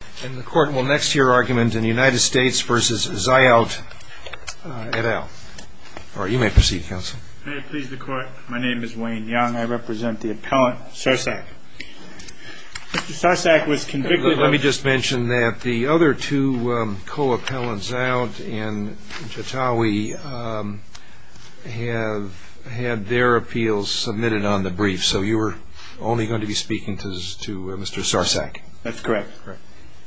May it please the court, my name is Wayne Young. I represent the appellant, Sarsak. Mr. Sarsak was convicted of... Let me just mention that the other two co-appellants, Zayot and Jatawi, have had their appeals submitted on the brief. So you were only going to be speaking to Mr. Sarsak? That's correct.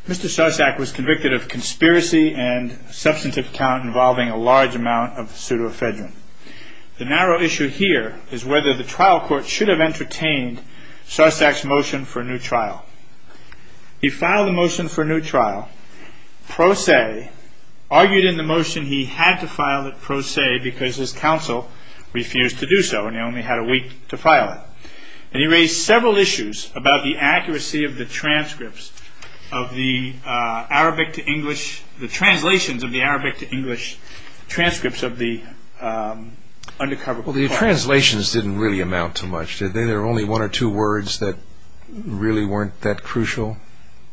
Mr. Sarsak was convicted of conspiracy and substantive count involving a large amount of pseudoephedrine. The narrow issue here is whether the trial court should have entertained Sarsak's motion for a new trial. He filed the motion for a new trial, pro se, argued in the motion he had to file it pro se because his counsel refused to do so and he only had a week to file it. He raised several issues about the accuracy of the transcripts of the Arabic to English... the translations of the Arabic to English transcripts of the undercover... Well, the translations didn't really amount to much, did they? There were only one or two words that really weren't that crucial?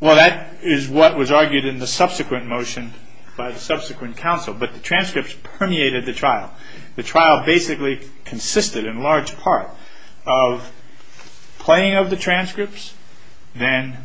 Well, that is what was argued in the subsequent motion by the subsequent counsel, but the transcripts permeated the trial. The trial basically consisted in large part of playing of the transcripts, then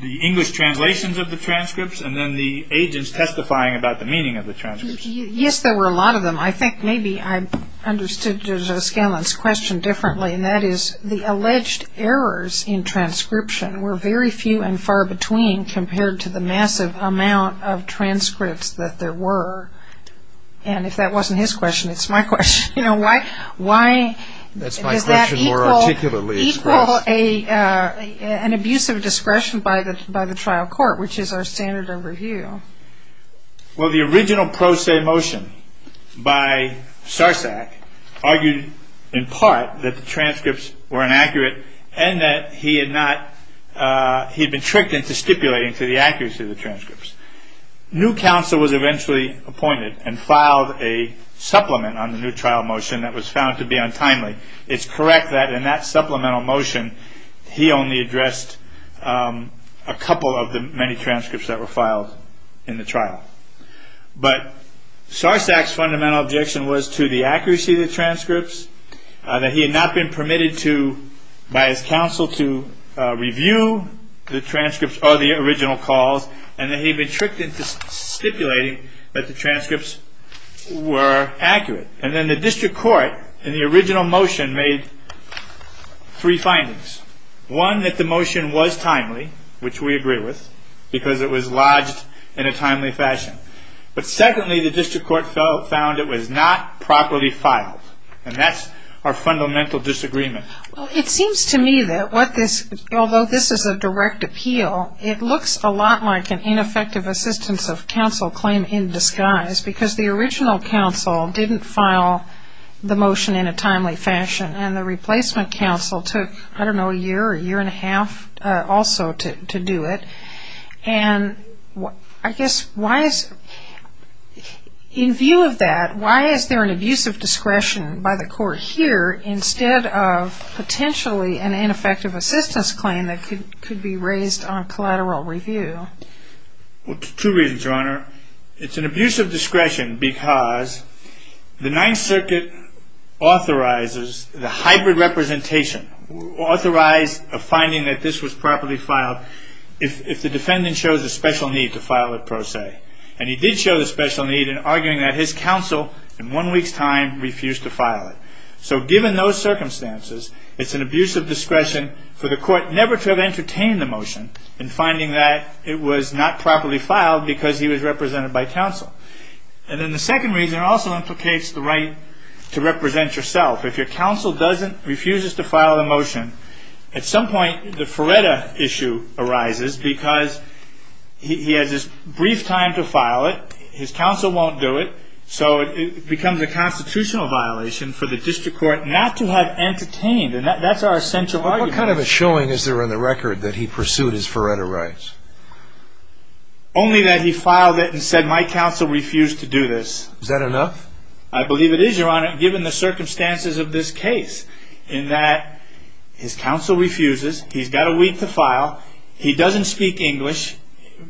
the English translations of the transcripts, and then the agents testifying about the meaning of the transcripts. Yes, there were a lot of them. I think maybe I understood Judge O'Scallion's question differently, and that is the alleged errors in transcription were very few and far between compared to the massive amount of transcripts that there were. And if that wasn't his question, it's my question. Why does that equal an abuse of discretion by the trial court, which is our standard of review? Well, the original pro se motion by Sarsak argued in part that the transcripts were inaccurate and that he had been tricked into stipulating to the accuracy of the transcripts. New counsel was eventually appointed and filed a supplement on the new trial motion that was found to be untimely. It's correct that in that supplemental motion, he only addressed a couple of the many transcripts that were filed in the trial. But Sarsak's fundamental objection was to the accuracy of the transcripts, that he had not been permitted by his counsel to review the transcripts or the original calls, and that he had been tricked into stipulating that the transcripts were accurate. And then the district court in the original motion made three findings. One, that the motion was timely, which we agree with, because it was lodged in a timely fashion. But secondly, the district court found it was not properly filed. And that's our fundamental disagreement. Well, it seems to me that what this, although this is a direct appeal, it looks a lot like an ineffective assistance of counsel claim in disguise, because the original counsel didn't file the motion in a timely fashion, and the replacement counsel took, I don't know, a year or a year and a half also to do it. And I guess why is, in view of that, why is there an abuse of discretion by the court here instead of potentially an ineffective assistance claim that could be raised on collateral review? Well, two reasons, Your Honor. It's an abuse of discretion because the Ninth Circuit authorizes the hybrid representation, authorized a finding that this was properly filed if the defendant shows a special need to file it, per se. And he did show the special need in arguing that his counsel in one week's time refused to file it. So given those circumstances, it's an abuse of discretion for the court never to have entertained the motion in finding that it was not properly filed because he was represented by counsel. And then the second reason also implicates the right to represent yourself. If your counsel refuses to file a motion, at some point the Faretta issue arises because he has this brief time to file it, his counsel won't do it, so it becomes a constitutional violation for the district court not to have entertained. And that's our essential argument. What kind of a showing is there in the record that he pursued his Faretta rights? Only that he filed it and said, my counsel refused to do this. Is that enough? I believe it is, Your Honor, given the circumstances of this case in that his counsel refuses. He's got a week to file. He doesn't speak English,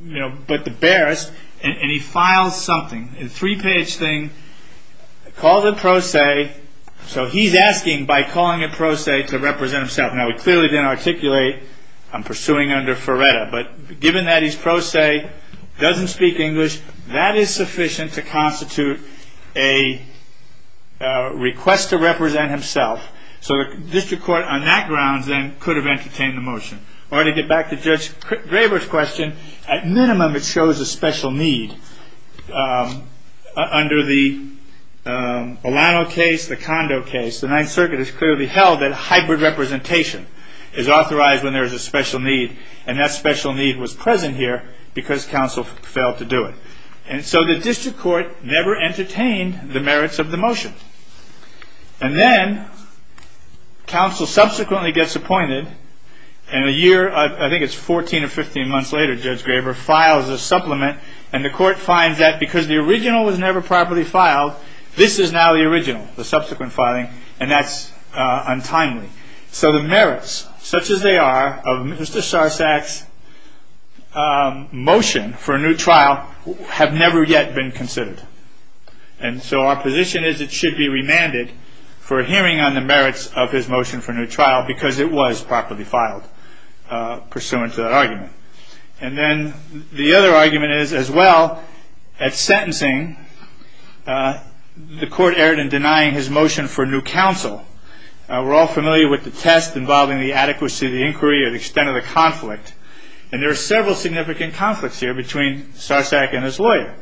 you know, but the barest, and he files something, a three-page thing, calls it pro se. So he's asking by calling it pro se to represent himself. Now, he clearly didn't articulate, I'm pursuing under Faretta. But given that he's pro se, doesn't speak English, that is sufficient to constitute a request to represent himself. So the district court on that grounds then could have entertained the motion. Or to get back to Judge Graber's question, at minimum it shows a special need. Under the Olano case, the Condo case, the Ninth Circuit has clearly held that hybrid representation is authorized when there is a special need. And that special need was present here because counsel failed to do it. And so the district court never entertained the merits of the motion. And then counsel subsequently gets appointed. And a year, I think it's 14 or 15 months later, Judge Graber files a supplement. And the court finds that because the original was never properly filed, this is now the original, the subsequent filing. And that's untimely. So the merits, such as they are, of Mr. Sarsak's motion for a new trial have never yet been considered. And so our position is it should be remanded for hearing on the merits of his motion for a new trial because it was properly filed pursuant to that argument. And then the other argument is as well, at sentencing, the court erred in denying his motion for new counsel. We're all familiar with the test involving the adequacy of the inquiry or the extent of the conflict. And there are several significant conflicts here between Sarsak and his lawyer.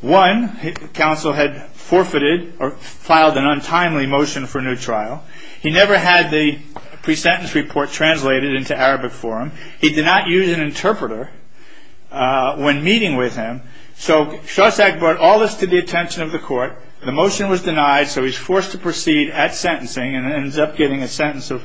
One, counsel had forfeited or filed an untimely motion for a new trial. He never had the pre-sentence report translated into Arabic for him. He did not use an interpreter when meeting with him. So Sarsak brought all this to the attention of the court. The motion was denied, so he was forced to proceed at sentencing and ends up getting a sentence of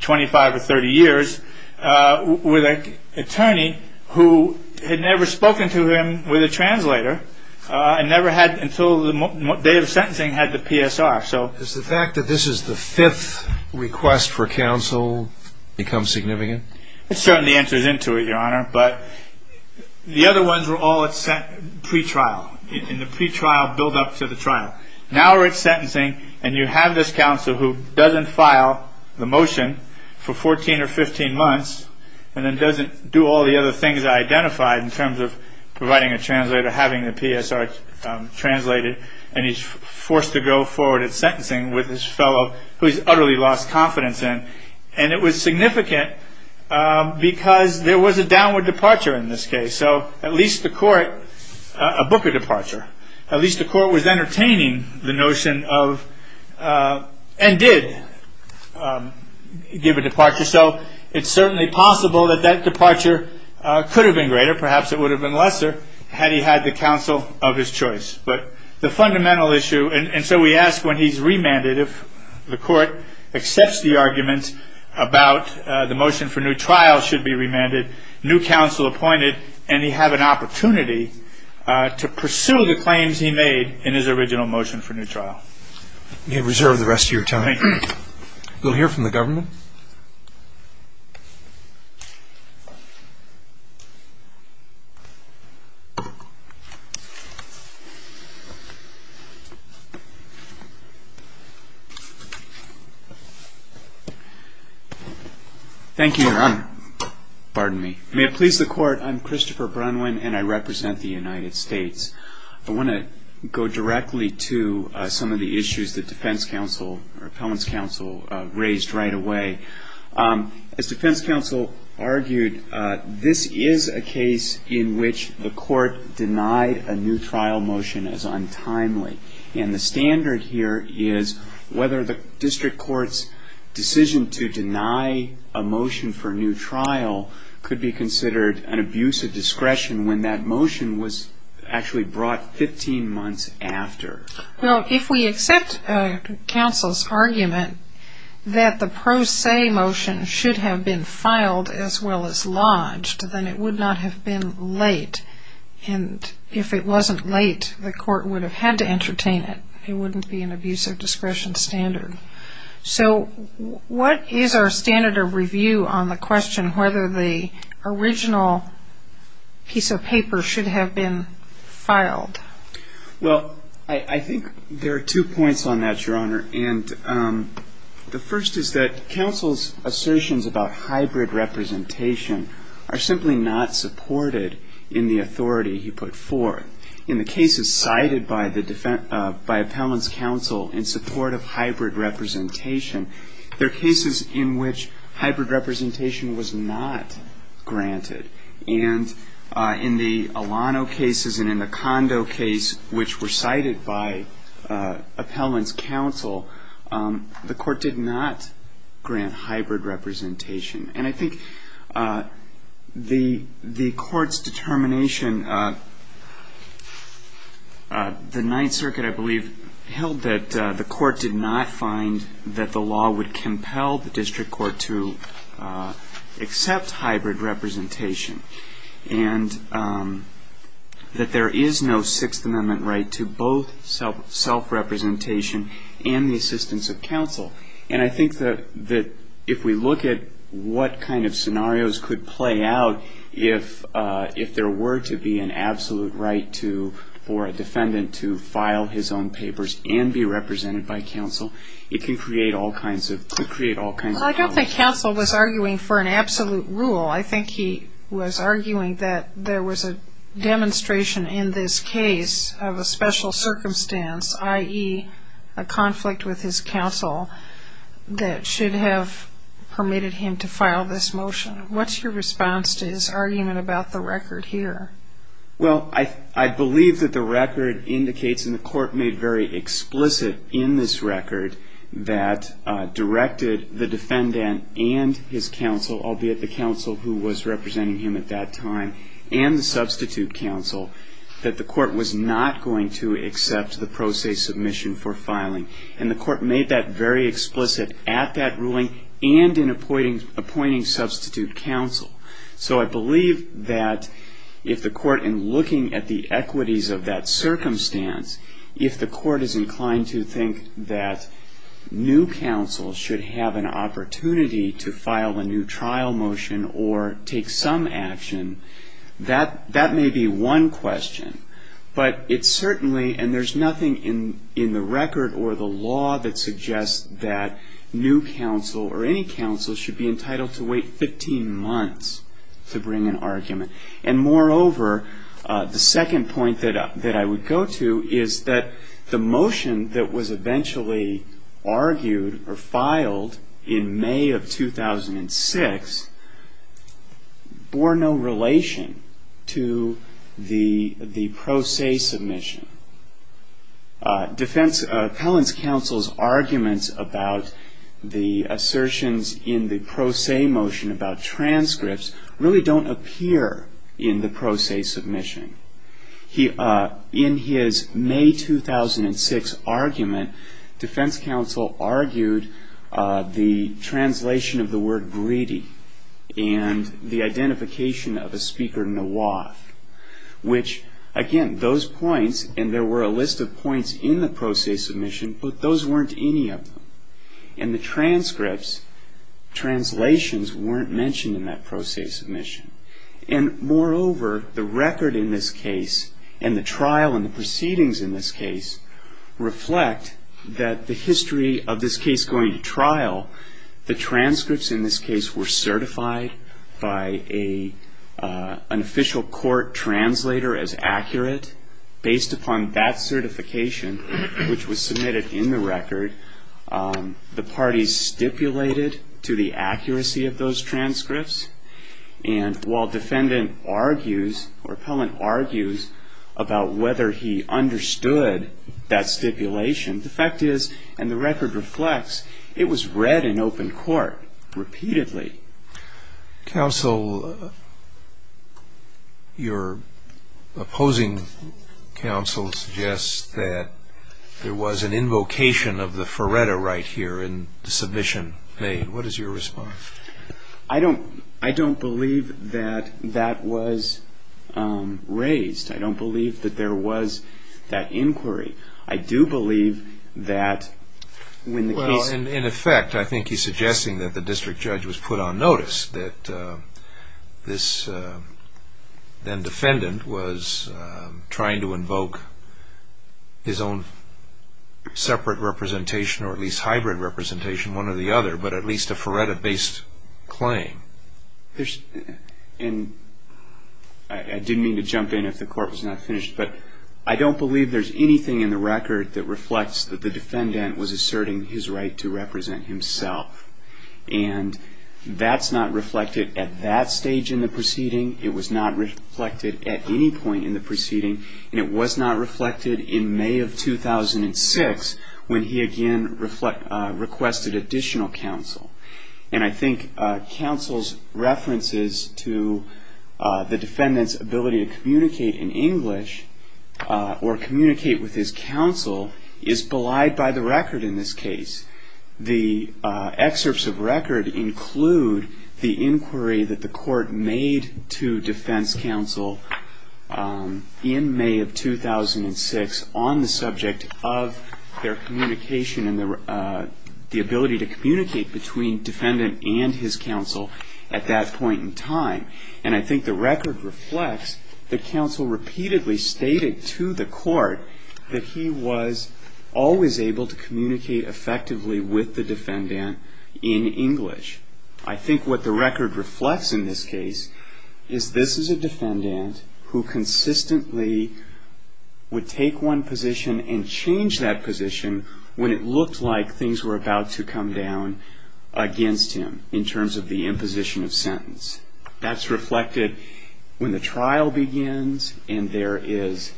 25 or 30 years with an attorney who had never spoken to him with a translator and never had until the day of sentencing had the PSR. Does the fact that this is the fifth request for counsel become significant? It certainly enters into it, Your Honor. But the other ones were all at pre-trial, in the pre-trial build-up to the trial. Now we're at sentencing and you have this counsel who doesn't file the motion for 14 or 15 months and then doesn't do all the other things I identified in terms of providing a translator, having the PSR translated, and he's forced to go forward at sentencing with this fellow who he's utterly lost confidence in. And it was significant because there was a downward departure in this case. So at least the court, a booker departure, at least the court was entertaining the notion of and did give a departure. So it's certainly possible that that departure could have been greater. Perhaps it would have been lesser had he had the counsel of his choice. But the fundamental issue, and so we ask when he's remanded, if the court accepts the argument about the motion for new trial should be remanded, new counsel appointed, and he have an opportunity to pursue the claims he made in his original motion for new trial. We reserve the rest of your time. We'll hear from the government. Thank you, Your Honor. Pardon me. May it please the court, I'm Christopher Brunwyn and I represent the United States. I want to go directly to some of the issues that defense counsel or appellant's counsel raised right away. As defense counsel argued, this is a case in which the court denied a new trial motion as untimely. And the standard here is whether the district court's decision to deny a motion for new trial could be considered an abuse of discretion when that motion was actually brought 15 months after. Well, if we accept counsel's argument that the pro se motion should have been filed as well as lodged, then it would not have been late. And if it wasn't late, the court would have had to entertain it. It wouldn't be an abuse of discretion standard. So what is our standard of review on the question whether the original piece of paper should have been filed? Well, I think there are two points on that, Your Honor. And the first is that counsel's assertions about hybrid representation are simply not supported in the authority he put forth. In the cases cited by appellant's counsel in support of hybrid representation, there are cases in which hybrid representation was not granted. And in the Alano cases and in the Condo case, which were cited by appellant's counsel, the court did not grant hybrid representation. And I think the court's determination, the Ninth Circuit, I believe, held that the court did not find that the law would compel the district court to accept hybrid representation and that there is no Sixth Amendment right to both self-representation and the assistance of counsel. And I think that if we look at what kind of scenarios could play out, if there were to be an absolute right for a defendant to file his own papers and be represented by counsel, it could create all kinds of problems. I don't think counsel was arguing for an absolute rule. I think he was arguing that there was a demonstration in this case of a special circumstance, i.e., a conflict with his counsel that should have permitted him to file this motion. What's your response to his argument about the record here? Well, I believe that the record indicates, and the court made very explicit in this record that directed the defendant and his counsel, albeit the counsel who was representing him at that time, and the substitute counsel, that the court was not going to accept the pro se submission for filing. And the court made that very explicit at that ruling and in appointing substitute counsel. So I believe that if the court, in looking at the equities of that circumstance, if the court is inclined to think that new counsel should have an opportunity to file a new trial motion or take some action, that may be one question. But it certainly, and there's nothing in the record or the law that suggests that new counsel or any counsel should be entitled to wait 15 months to bring an argument. And moreover, the second point that I would go to is that the motion that was eventually argued or filed in May of 2006 bore no relation to the pro se submission. Appellant's counsel's arguments about the assertions in the pro se motion about transcripts really don't appear in the pro se submission. In his May 2006 argument, defense counsel argued the translation of the word greedy and the identification of a speaker in the law, which, again, those points, and there were a list of points in the pro se submission, but those weren't any of them. And the transcripts, translations, weren't mentioned in that pro se submission. And moreover, the record in this case and the trial and the proceedings in this case reflect that the history of this case going to trial, the transcripts in this case were certified by an official court translator as accurate. Based upon that certification, which was submitted in the record, the parties stipulated to the accuracy of those transcripts. And while defendant argues or appellant argues about whether he understood that stipulation, the fact is, and the record reflects, it was read in open court repeatedly. Counsel, your opposing counsel suggests that there was an invocation of the Feretta right here in the submission made. What is your response? I don't believe that that was raised. I don't believe that there was that inquiry. I do believe that when the case... Well, in effect, I think he's suggesting that the district judge was put on notice, that this then-defendant was trying to invoke his own separate representation or at least hybrid representation, one or the other, but at least a Feretta-based claim. And I didn't mean to jump in if the court was not finished, but I don't believe there's anything in the record that reflects that the defendant was asserting his right to represent himself. And that's not reflected at that stage in the proceeding. It was not reflected at any point in the proceeding. And it was not reflected in May of 2006 when he again requested additional counsel. And I think counsel's references to the defendant's ability to communicate in English or communicate with his counsel is belied by the record in this case. The excerpts of record include the inquiry that the court made to defense counsel in May of 2006 on the subject of their communication and the ability to communicate between defendant and his counsel at that point in time. And I think the record reflects that counsel repeatedly stated to the court that he was always able to communicate effectively with the defendant in English. I think what the record reflects in this case is this is a defendant who consistently would take one position and change that position when it looked like things were about to come down against him in terms of the imposition of sentence. That's reflected when the trial begins and there is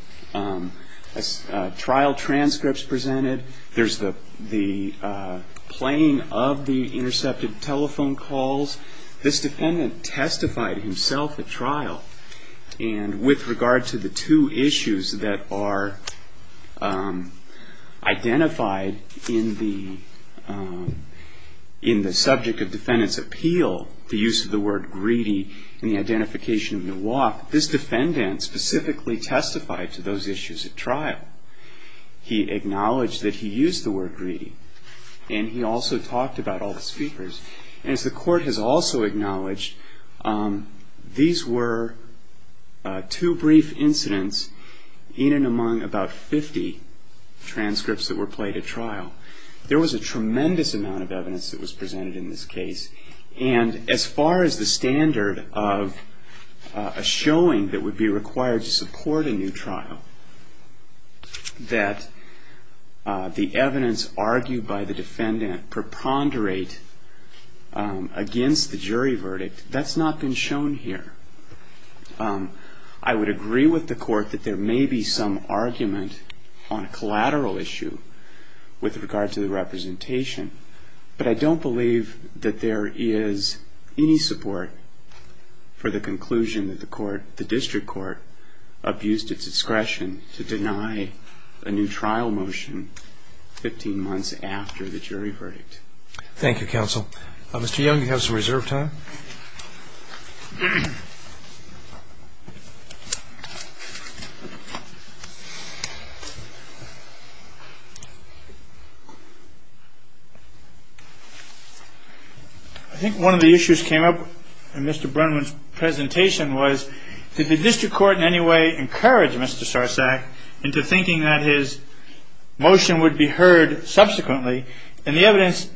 trial transcripts presented. There's the playing of the intercepted telephone calls. This defendant testified himself at trial. And with regard to the two issues that are identified in the subject of defendant's appeal, the use of the word greedy and the identification of the walk, this defendant specifically testified to those issues at trial. He acknowledged that he used the word greedy and he also talked about all the speakers. And as the court has also acknowledged, these were two brief incidents in and among about 50 transcripts that were played at trial. There was a tremendous amount of evidence that was presented in this case. And as far as the standard of a showing that would be required to support a new trial, that the evidence argued by the defendant preponderate against the jury verdict, that's not been shown here. I would agree with the court that there may be some argument on a collateral issue with regard to the representation, but I don't believe that there is any support for the conclusion that the court, the district court, abused its discretion to deny a new trial motion 15 months after the jury verdict. Thank you, counsel. Mr. Young, you have some reserve time. I think one of the issues that came up in Mr. Burnham's presentation was, did the district court in any way encourage Mr. Sarsak into thinking that his motion would be heard subsequently? And the evidence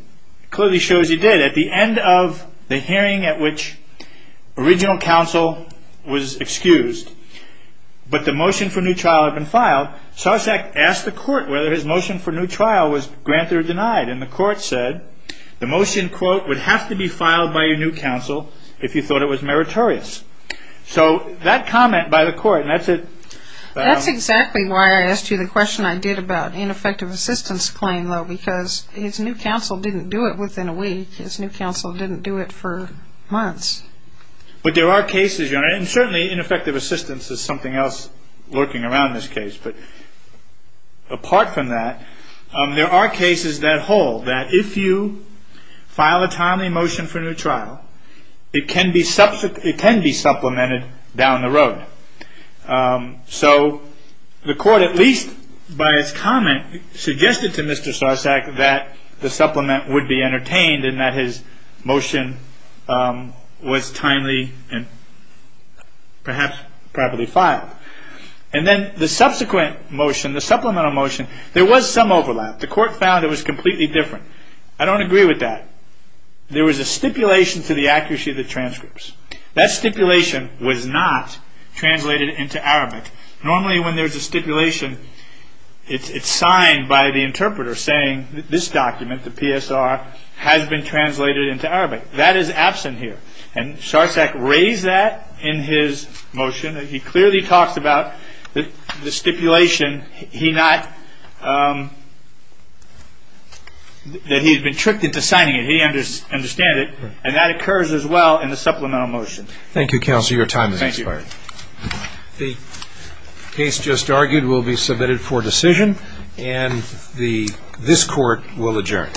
clearly shows he did. At the end of the hearing at which original counsel was excused, but the motion for new trial had been filed, Sarsak asked the court whether his motion for new trial was granted or denied. And the court said the motion, quote, would have to be filed by your new counsel if you thought it was meritorious. So that comment by the court, and that's it. That's the discussion I did about ineffective assistance claim, though, because his new counsel didn't do it within a week. His new counsel didn't do it for months. But there are cases, Your Honor, and certainly ineffective assistance is something else lurking around this case. But apart from that, there are cases that hold that if you file a timely motion for new trial, it can be supplemented down the road. So the court, at least by its comment, suggested to Mr. Sarsak that the supplement would be entertained and that his motion was timely and perhaps properly filed. And then the subsequent motion, the supplemental motion, there was some overlap. The court found it was completely different. I don't agree with that. There was a stipulation to the accuracy of the transcripts. That stipulation was not translated into Arabic. Normally when there's a stipulation, it's signed by the interpreter saying this document, the PSR, has been translated into Arabic. That is absent here. And Sarsak raised that in his motion. He clearly talks about the stipulation that he's been tricked into signing it. He understands it. And that occurs as well in the supplemental motion. Thank you, Counselor. Your time has expired. The case just argued will be submitted for decision and this Court will adjourn.